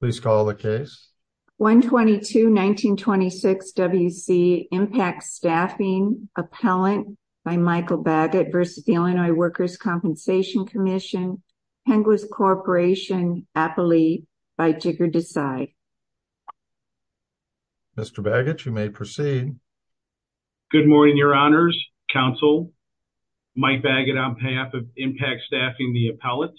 Please call the case. 122-1926 W.C. Impact Staffing Appellant by Michael Baggett v. Illinois Workers' Compensation Comm'n, Penglis Corporation, Appalee by Jigar Desai. Mr. Baggett, you may proceed. Good morning, Your Honors, Counsel, Mike Baggett on behalf of Impact Staffing the Appellant.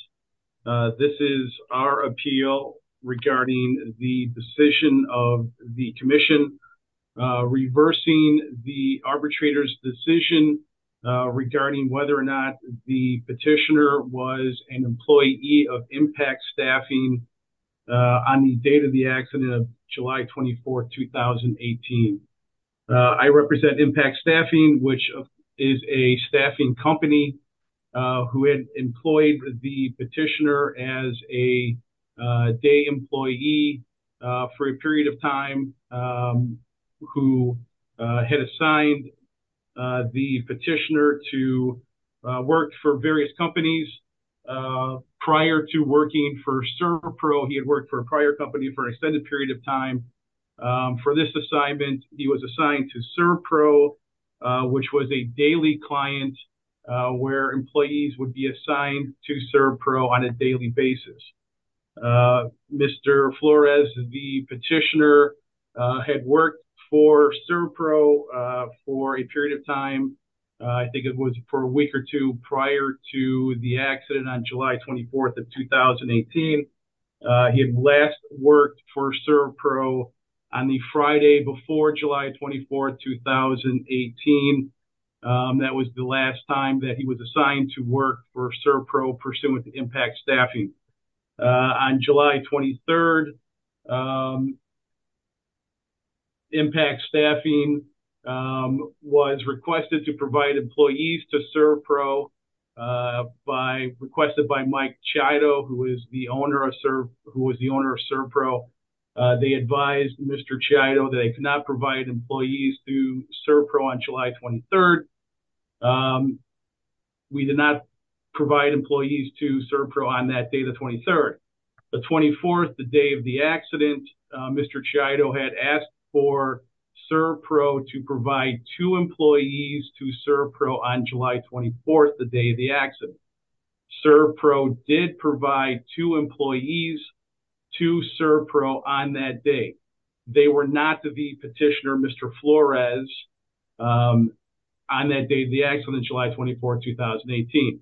This is our appeal regarding the decision of the Commission reversing the arbitrator's decision regarding whether or not the petitioner was an employee of Impact Staffing on the date of the staffing company who had employed the petitioner as a day employee for a period of time who had assigned the petitioner to work for various companies prior to working for SERPRO. He had worked for a prior company for an extended period of time. For this assignment, he was a daily client where employees would be assigned to SERPRO on a daily basis. Mr. Flores, the petitioner had worked for SERPRO for a period of time. I think it was for a week or two prior to the accident on July 24th of 2018. He had last worked for SERPRO on the Friday before July 24th, 2018. That was the last time that he was assigned to work for SERPRO pursuant to Impact Staffing. On July 23rd, Impact Staffing was requested to provide employees to SERPRO requested by Mike Chiodo, who is the owner of SERPRO. They advised Mr. Chiodo that they would provide employees to SERPRO on July 23rd. We did not provide employees to SERPRO on that day, the 23rd. The 24th, the day of the accident, Mr. Chiodo had asked for SERPRO to provide two employees to SERPRO on July 24th, the day of the accident. SERPRO did provide two employees to SERPRO on that day. They were not the petitioner, Mr. Flores, on that day of the accident, July 24th, 2018.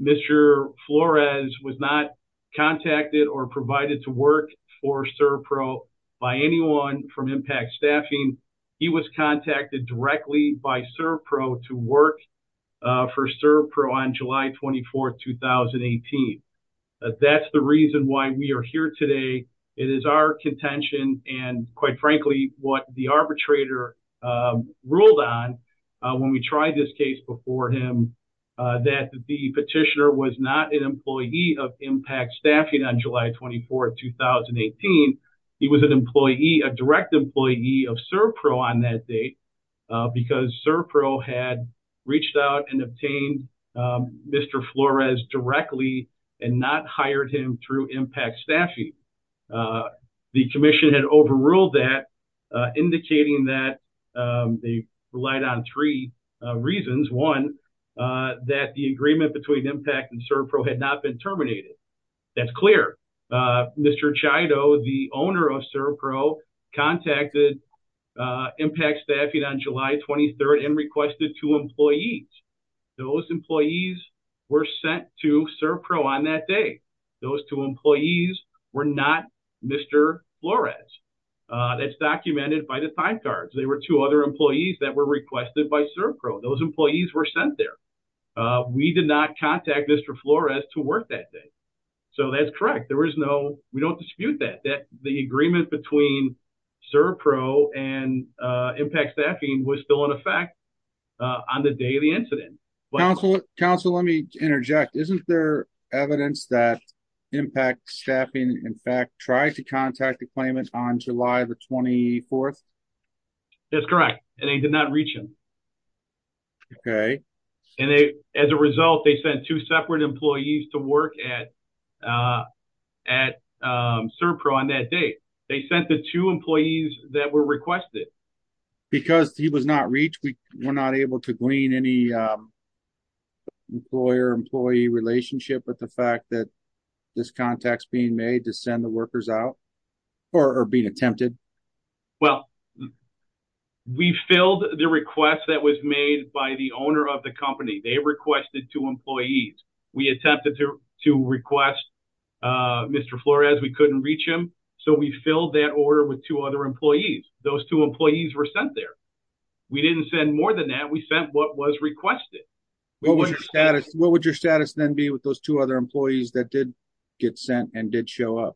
Mr. Flores was not contacted or provided to work for SERPRO by anyone from Impact Staffing. He was contacted directly by SERPRO to work for SERPRO on July 24th, 2018. That's the reason why we are here today. It is our contention and, quite frankly, what the arbitrator ruled on when we tried this case before him, that the petitioner was not an employee of Impact Staffing on July 24th, 2018. He was a direct employee of SERPRO on that date because SERPRO had reached out and obtained Mr. Flores directly and not hired him through Impact Staffing. The commission had overruled that, indicating that they relied on three reasons. One, that the agreement between Impact and SERPRO had not been terminated. That's clear. Mr. Chido, the owner of SERPRO, contacted Impact Staffing on July 23rd and requested two employees. Those employees were sent to SERPRO on that day. Those two employees were not Mr. Flores. That's documented by the time cards. They were two other employees that were requested by SERPRO. Those employees were sent there. We did not contact Mr. Flores to work that day. That's correct. We don't dispute that. The agreement between SERPRO and Impact Staffing was still in effect on the day of the incident. Counsel, let me interject. Isn't there evidence that Impact Staffing, in fact, tried to contact the claimant on July 24th? That's correct. They did not reach him. Okay. As a result, they sent two separate employees to work at SERPRO on that day. They sent the two employees that were requested. Because he was not reached, we were not able to glean any employer-employee relationship with the fact that this contact is being made to send the workers out or being attempted? Well, we filled the request that was made by the owner of the company. They requested two employees. We attempted to request Mr. Flores. We couldn't reach him. So, we filled that order with two other employees. Those two employees were sent there. We didn't send more than that. We sent what was requested. What would your status then be with those two other employees that did get Impact Staffing? If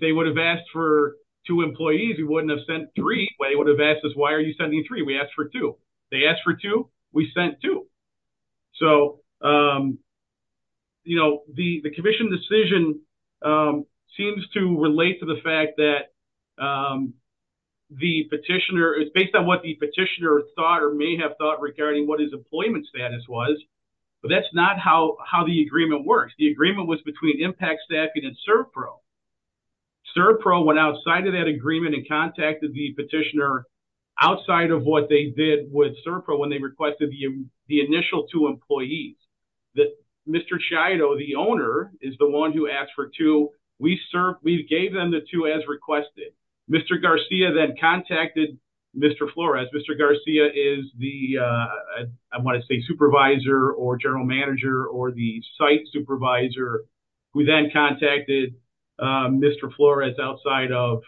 they would have asked for two employees, we wouldn't have sent three. They would have asked us, why are you sending three? We asked for two. They asked for two. We sent two. The commission decision seems to relate to the fact that based on what the petitioner thought or may have thought regarding what his employment status was, that's not how the agreement works. The agreement was between Impact Staffing and CERPRO. CERPRO went outside of that agreement and contacted the petitioner outside of what they did with CERPRO when they requested the initial two employees. Mr. Chiado, the owner, is the one who asked for two. We gave them the two as requested. Mr. Garcia then contacted Mr. Flores. Mr. Garcia is the supervisor or general manager or the site supervisor who then contacted Mr. Flores outside of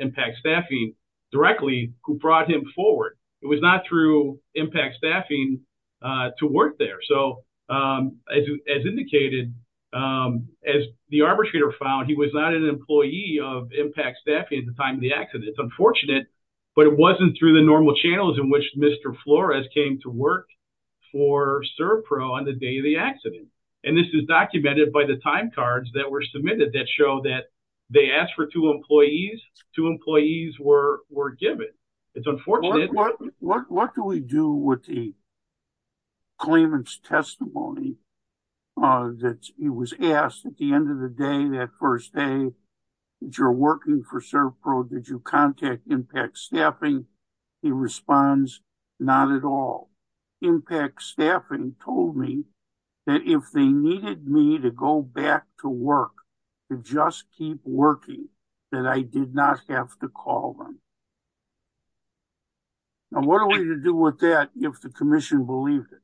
Impact Staffing directly who brought him forward. It was not through Impact Staffing to work there. As indicated, as the arbitrator found, he was not an employee of Impact Staffing at the time of the accident. It's unfortunate, but it wasn't through the normal channels in which Mr. Flores came to work for CERPRO on the day of the accident. This is documented by the time cards that were submitted that show that they asked for two employees. Two employees were given. What do we do with the claimant's testimony that he was asked at the end of the day, that first day, that you're working for CERPRO, did you contact Impact Staffing? He responds, not at all. Impact Staffing told me that if they needed me to go back to work, to just keep working, that I did not have to call them. Now, what are we to do with that if the commission believed it?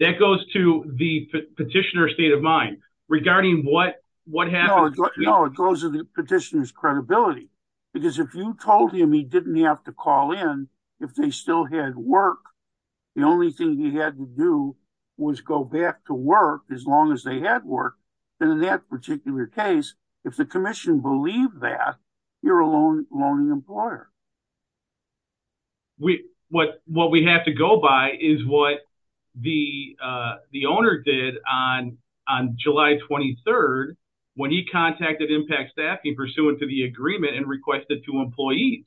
That goes to the petitioner's state of mind regarding what happened. No, it goes to the petitioner's credibility. Because if you told him he didn't have to call in if they still had work, the only thing he had to do was go back to work as long as they had work, then in that particular case, if the commission believed that, you're a loaning employer. What we have to go by is what the owner did on July 23rd when he contacted Impact Staffing pursuant to the agreement and requested two employees.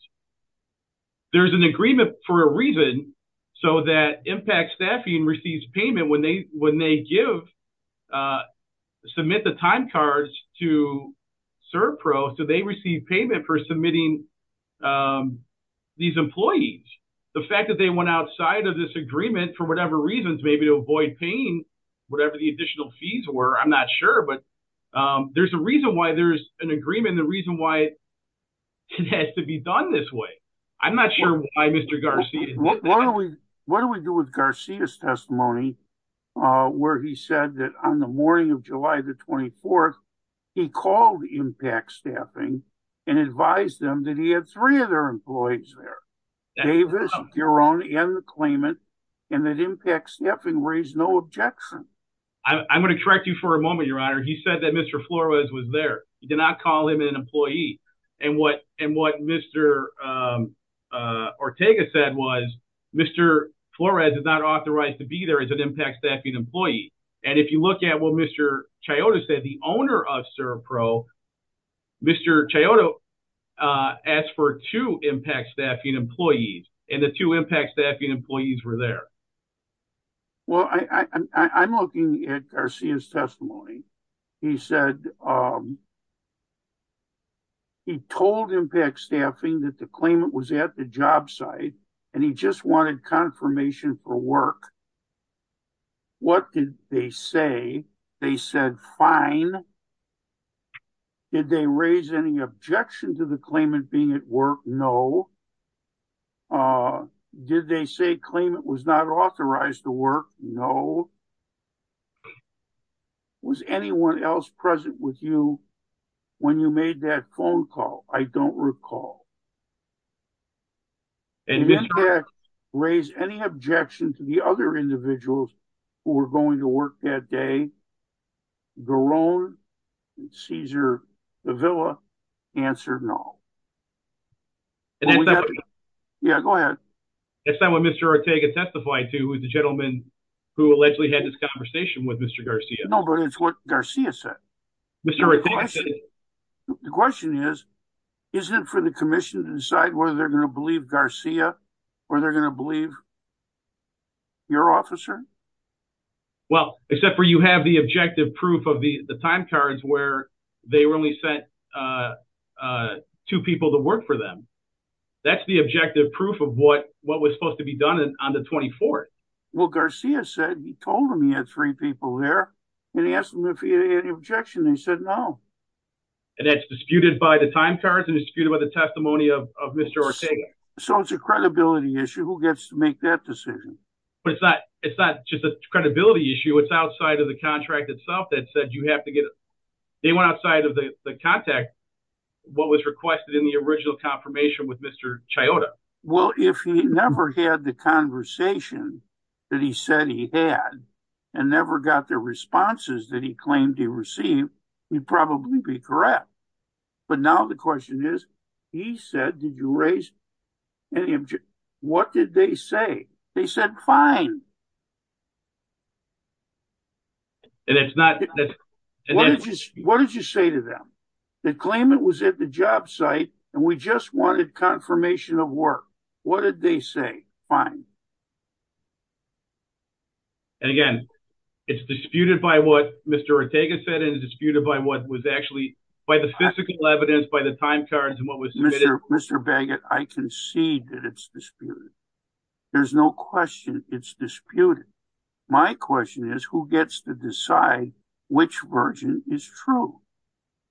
There's an agreement for a reason so that Impact Staffing receives payment when they submit the time cards to CERPRO, so they receive payment for submitting these employees. The fact that they went outside of this agreement for whatever reasons, maybe to avoid paying whatever the additional fees were, I'm not sure, but there's a reason why there's an agreement and the reason why it has to be done this way. I'm not sure why Mr. Garcia did that. What do we do with Garcia's testimony where he said that on the morning of July 24th, he called Impact Staffing and advised them that he had three of their employees there, Davis, Giron, and the claimant, and that Impact Staffing raised no objection? I'm going to correct you for a moment, Your Honor. He said that Mr. Flores was there. He did not call him an employee, and what Mr. Ortega said was Mr. Flores is not authorized to be there as an Impact Staffing employee, and if you look at what Mr. Chioda said, the owner of CERPRO, Mr. Chioda asked for two Impact Staffing employees, and the two Impact Staffing employees were there. Well, I'm looking at Garcia's testimony. He said he told Impact Staffing that the claimant was at the job site and he just wanted confirmation for the claimant. Did they raise any objection to the claimant being at work? No. Did they say the claimant was not authorized to work? No. Was anyone else present with you when you made that phone call? I don't recall. Did Impact raise any objection to the other individuals who were going to work that day? Garone, Caesar, the Villa answered no. Yeah, go ahead. That's not what Mr. Ortega testified to, the gentleman who allegedly had this conversation with Mr. Garcia. No, but it's what Garcia said. The question is, isn't it for the commission to decide whether they're going to believe Garcia or they're going to believe your officer? Well, except for you have the objective proof of the time cards where they only sent two people to work for them. That's the objective proof of what was supposed to be done on the 24th. Well, Garcia said he told him he had three people there, and he asked him if he had any objection. He said no. And that's disputed by the time cards and disputed by the testimony of Mr. Ortega. So it's a credibility issue. Who gets to make that decision? But it's not just a credibility issue. It's outside of the contract itself that said you have to get it. They went outside of the contact, what was requested in the original confirmation with Mr. Chioda. Well, if he never had the conversation that he said he had and never got the responses that he claimed he received, he'd probably be correct. But now the question is, he said, did you raise any objection? What did they say? They said fine. What did you say to them? They claim it was at the job site, and we just wanted confirmation of work. What did they say? Fine. And again, it's disputed by what Mr. Ortega said and disputed by what was actually, by the physical evidence, by the time cards and what was submitted. Mr. Baggett, I concede that it's disputed. There's no question it's disputed. My question is, who gets to decide which version is true?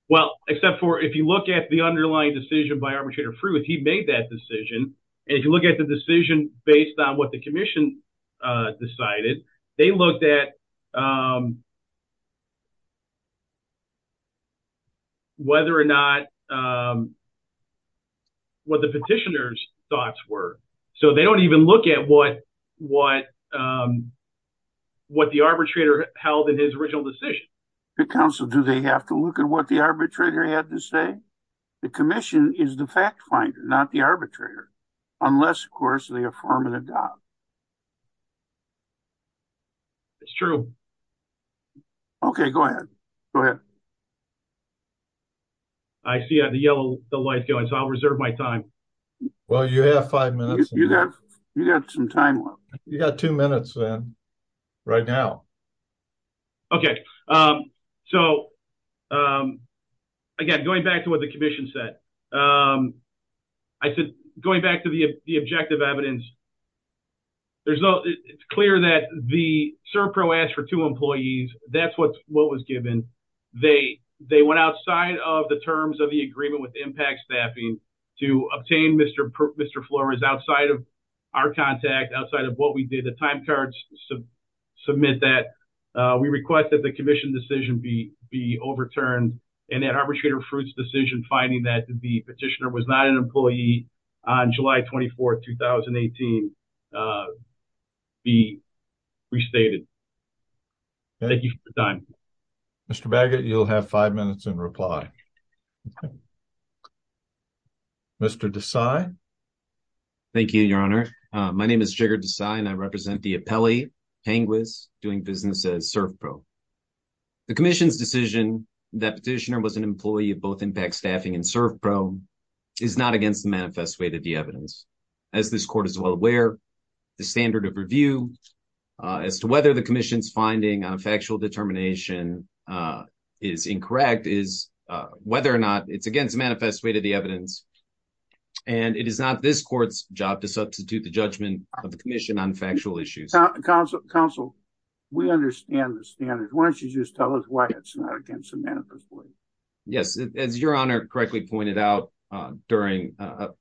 Well, except for if you look at the underlying decision by Arbitrator Frew, if he made that decision, and if you look at the decision based on what the commission decided, they looked at whether or not, what the petitioner's thoughts were. So they don't even look at what the arbitrator held in his original decision. Counsel, do they have to look at what the arbitrator had to say? The commission is the fact finder, not the arbitrator. Unless, of course, they affirm and adopt. It's true. Okay, go ahead. Go ahead. I see the yellow light going, so I'll reserve my time. Well, you have five minutes. You got some time left. You got two minutes, then, right now. Okay. So, again, going back to what the evidence, it's clear that the SERPRO asked for two employees. That's what was given. They went outside of the terms of the agreement with the impact staffing to obtain Mr. Flores outside of our contact, outside of what we did. The time cards submit that. We request that the commission decision be overturned, and that Arbitrator Frew's decision finding that the 2018 be restated. Thank you for your time. Mr. Baggett, you'll have five minutes in reply. Mr. Desai? Thank you, Your Honor. My name is Jigar Desai, and I represent the appellee, Penguis, doing business as SERPRO. The commission's decision that petitioner was an employee of both the appellee and the petitioner is against the manifest way to the evidence. As this court is well aware, the standard of review as to whether the commission's finding on factual determination is incorrect is whether or not it's against the manifest way to the evidence, and it is not this court's job to substitute the judgment of the commission on factual issues. Counsel, we understand the standard. Why don't you just tell us why it's not against the manifest way? Yes, as Your Honor correctly pointed out during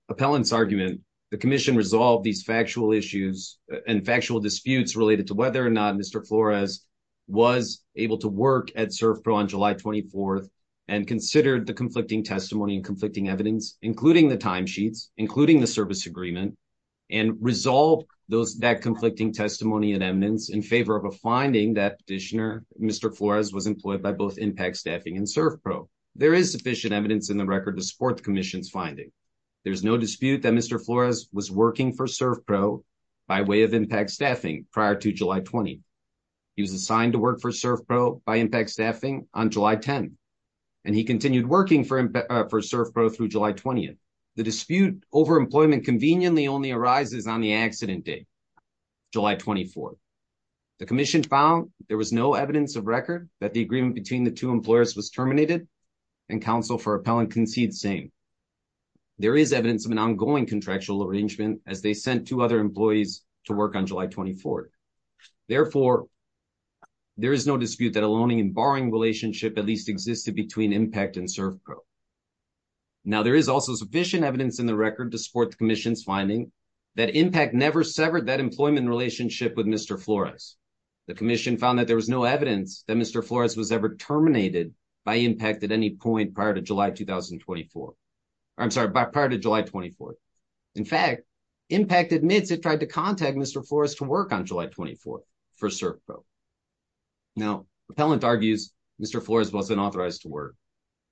appellant's argument, the commission resolved these factual issues and factual disputes related to whether or not Mr. Flores was able to work at SERPRO on July 24th and considered the conflicting testimony and conflicting evidence, including the timesheets, including the service agreement, and resolved that conflicting testimony and evidence in favor of a finding that petitioner, Mr. Flores, was employed by both Impact Staffing and SERPRO. There is sufficient evidence in the record to support the commission's finding. There's no dispute that Mr. Flores was working for SERPRO by way of Impact Staffing prior to July 20th. He was assigned to work for SERPRO by Impact Staffing on July 10th, and he continued working for SERPRO through July 20th. The dispute over employment conveniently only arises on the accident date, July 24th. The commission found there was no evidence of record that the agreement between the two employers was terminated, and counsel for appellant concedes same. There is evidence of an ongoing contractual arrangement as they sent two other employees to work on July 24th. Therefore, there is no dispute that a loaning and borrowing relationship at least existed between Impact and SERPRO. Now, there is also sufficient evidence in the record to support the commission's finding that Impact never severed that employment relationship with Mr. Flores. The commission found that there was no evidence that Mr. Flores was ever terminated by Impact at any point prior to July 24th. In fact, Impact admits it tried to contact Mr. Flores to work on July 24th for SERPRO. Now, appellant argues Mr. Flores wasn't authorized to work.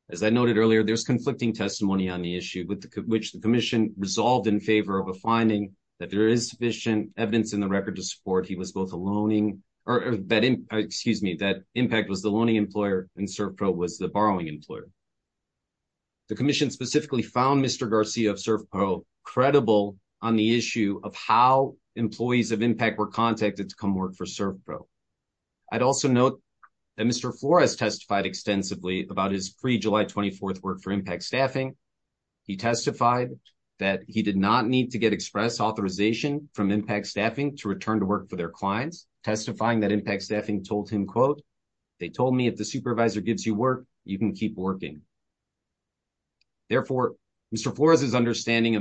As I noted earlier, there's conflicting testimony on the issue with which the commission resolved in favor of a finding that there is sufficient evidence in the record to support he was both a loaning or that, excuse me, that Impact was the loaning employer and SERPRO was the borrowing employer. The commission specifically found Mr. Garcia of SERPRO credible on the issue of how employees of Impact were contacted to come work for SERPRO. I'd also note that Mr. Flores testified about his pre-July 24th work for Impact Staffing. He testified that he did not need to get express authorization from Impact Staffing to return to work for their clients, testifying that Impact Staffing told him, quote, they told me if the supervisor gives you work, you can keep working. Therefore, Mr. Flores' understanding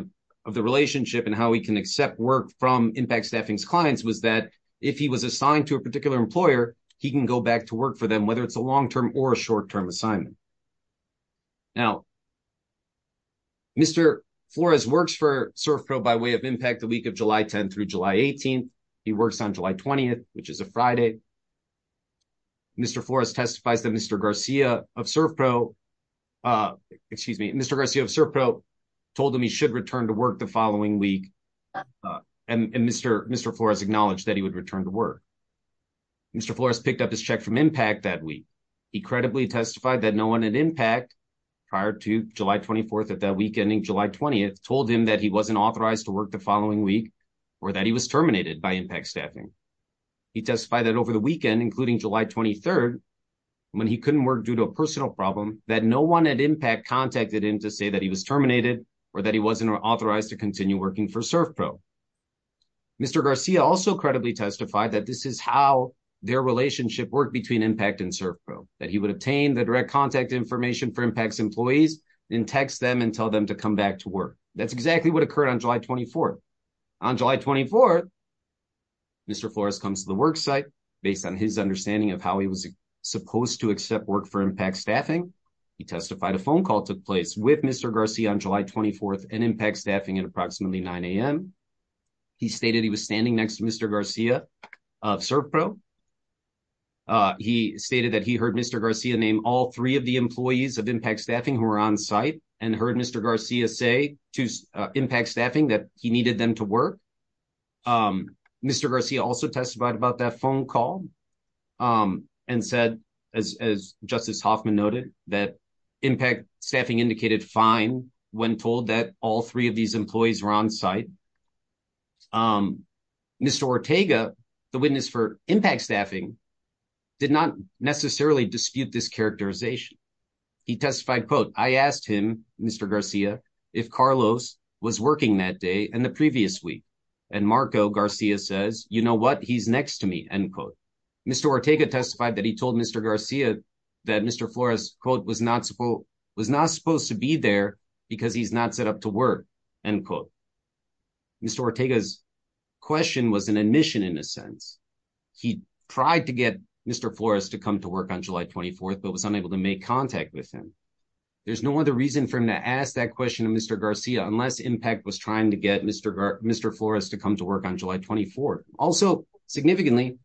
of the relationship and how he can accept work from Impact Staffing's clients was that if he was assigned to a particular employer, he can go back to work for them, whether it's a long-term or a short-term assignment. Now, Mr. Flores works for SERPRO by way of Impact the week of July 10th through July 18th. He works on July 20th, which is a Friday. Mr. Flores testifies that Mr. Garcia of SERPRO, excuse me, Mr. Garcia of SERPRO told him he should return to work the following week and Mr. Flores acknowledged that he would that week. He credibly testified that no one at Impact prior to July 24th of that week ending July 20th told him that he wasn't authorized to work the following week or that he was terminated by Impact Staffing. He testified that over the weekend, including July 23rd, when he couldn't work due to a personal problem, that no one at Impact contacted him to say that he was terminated or that he wasn't authorized to continue working for SERPRO. Mr. Garcia also credibly testified that this is how their relationship worked between Impact and SERPRO, that he would obtain the direct contact information for Impact's employees and text them and tell them to come back to work. That's exactly what occurred on July 24th. On July 24th, Mr. Flores comes to the work site based on his understanding of how he was supposed to accept work for Impact Staffing. He testified a phone call took place with Mr. Garcia on July 24th and Impact Staffing at SERPRO. He stated that he heard Mr. Garcia name all three of the employees of Impact Staffing who were on site and heard Mr. Garcia say to Impact Staffing that he needed them to work. Mr. Garcia also testified about that phone call and said, as Justice Hoffman noted, that Impact Staffing indicated fine when told that all three of these employees were on site. Mr. Ortega, the witness for Impact Staffing, did not necessarily dispute this characterization. He testified, quote, I asked him, Mr. Garcia, if Carlos was working that day and the previous week, and Marco Garcia says, you know what, he's next to me, end quote. Mr. Ortega testified that he told Mr. Garcia that Mr. Flores, quote, was not supposed to be there because he's not set up to Mr. Ortega's question was an admission in a sense. He tried to get Mr. Flores to come to work on July 24th but was unable to make contact with him. There's no other reason for him to ask that question of Mr. Garcia unless Impact was trying to get Mr. Flores to come to work on July 24th. Also, significantly,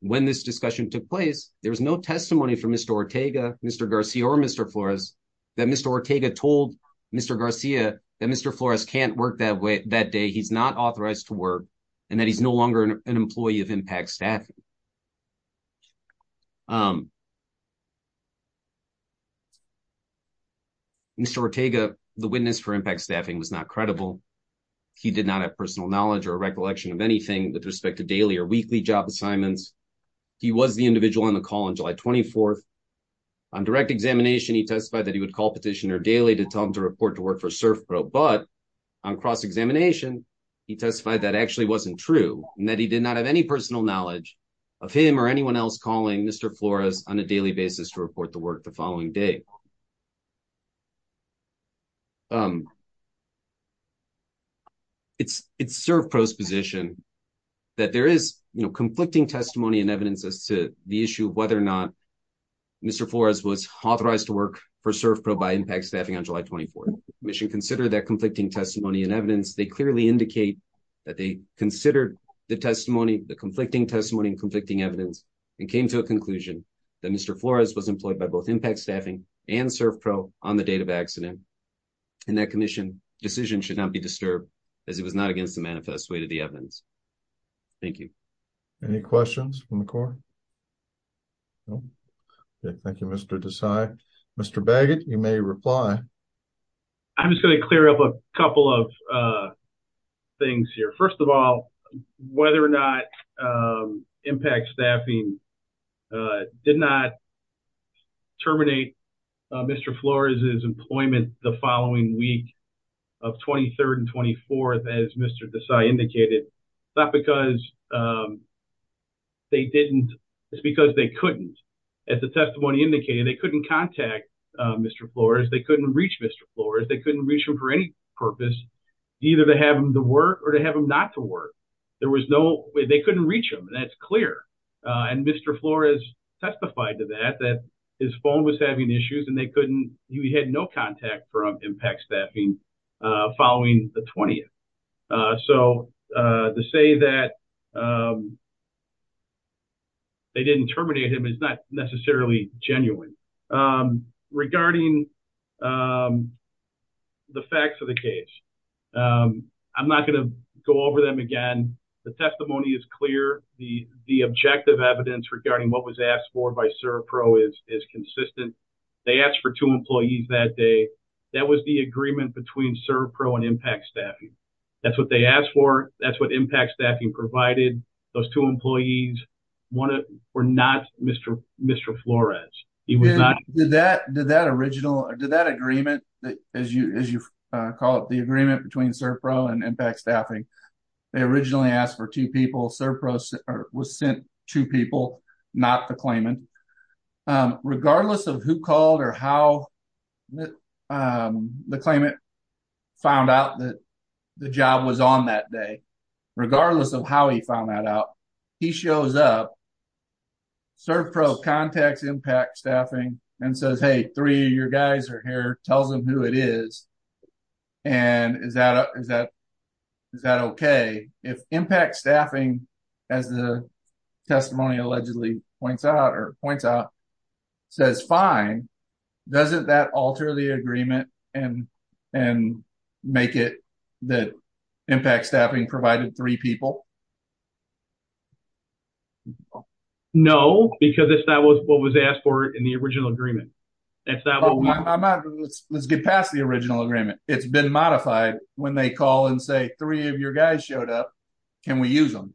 when this discussion took place, there was no testimony from Mr. Ortega, Mr. Garcia, or Mr. Flores that Mr. Ortega told Mr. Garcia that Mr. Flores can't work that way, he's not authorized to work, and that he's no longer an employee of Impact Staffing. Mr. Ortega, the witness for Impact Staffing, was not credible. He did not have personal knowledge or a recollection of anything with respect to daily or weekly job assignments. He was the individual on the call on July 24th. On direct examination, he testified that he would call daily to tell him to report to work for ServPro, but on cross-examination, he testified that actually wasn't true and that he did not have any personal knowledge of him or anyone else calling Mr. Flores on a daily basis to report to work the following day. It's ServPro's position that there is conflicting testimony and evidence as to the issue of whether or not Mr. Flores was authorized to work for ServPro by Impact Staffing on July 24th. The commission considered that conflicting testimony and evidence. They clearly indicate that they considered the testimony, the conflicting testimony and conflicting evidence, and came to a conclusion that Mr. Flores was employed by both Impact Staffing and ServPro on the date of accident, and that commission decision should not be disturbed as it was not against the manifest way to the evidence. Thank you. Any questions from the court? No? Okay, thank you, Mr. Desai. Mr. Baggett, you may reply. I'm just going to clear up a couple of things here. First of all, whether or not Impact Staffing did not terminate Mr. Flores' employment the following week of 23rd and 24th, as Mr. Desai indicated, it's not because they didn't. It's because they couldn't. As the testimony indicated, they couldn't contact Mr. Flores. They couldn't reach Mr. Flores. They couldn't reach him for any purpose, either to have him to work or to have him not to work. There was no way. They couldn't reach him, and that's clear. And Mr. Flores testified to that, that his phone was having to say that they didn't terminate him is not necessarily genuine. Regarding the facts of the case, I'm not going to go over them again. The testimony is clear. The objective evidence regarding what was asked for by ServPro is consistent. They asked for two employees that day. That was the agreement between ServPro and Impact Staffing. That's they asked for. That's what Impact Staffing provided. Those two employees were not Mr. Flores. Did that agreement, as you call it, the agreement between ServPro and Impact Staffing, they originally asked for two people. ServPro was sent two people, not the claimant. Regardless of who called or how the claimant found out that the job was on that day, regardless of how he found that out, he shows up, ServPro contacts Impact Staffing and says, hey, three of your guys are here, tells them who it is, and is that okay? If Impact Staffing, as the testimony allegedly points out, says fine, doesn't that alter the agreement and make it that Impact Staffing provided three people? No, because that's what was asked for in the original agreement. Let's get past the original agreement. It's been modified when they call and say three of your guys showed up. Can we use them?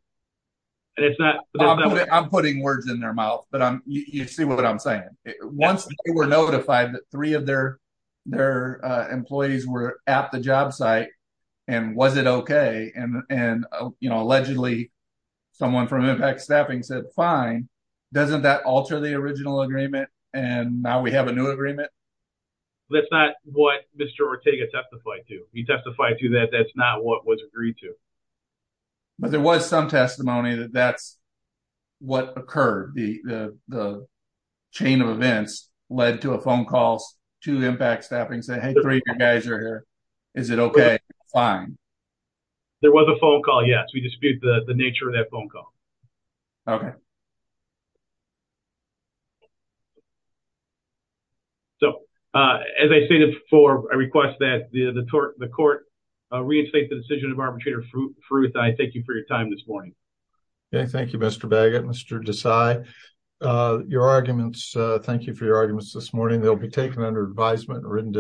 I'm putting words in their mouth, but you see what I'm saying. Once they were notified that three of their employees were at the job site, and was it okay, and allegedly someone from Impact Staffing said fine, doesn't that alter the original agreement, and now we have a new agreement? That's not what Mr. Ortega testified to. That's not what was agreed to. There was some testimony that that's what occurred. The chain of events led to a phone call to Impact Staffing saying, hey, three of your guys are here. Is it okay? Fine. There was a phone call, yes. We dispute the nature of that phone call. Okay. So, as I stated before, I request that the court reinstate the decision of Arbitrator Faroukhzadeh. Thank you for your time this morning. Okay. Thank you, Mr. Baggett, Mr. Desai. Thank you for your arguments this morning. They'll be taken under advisement and written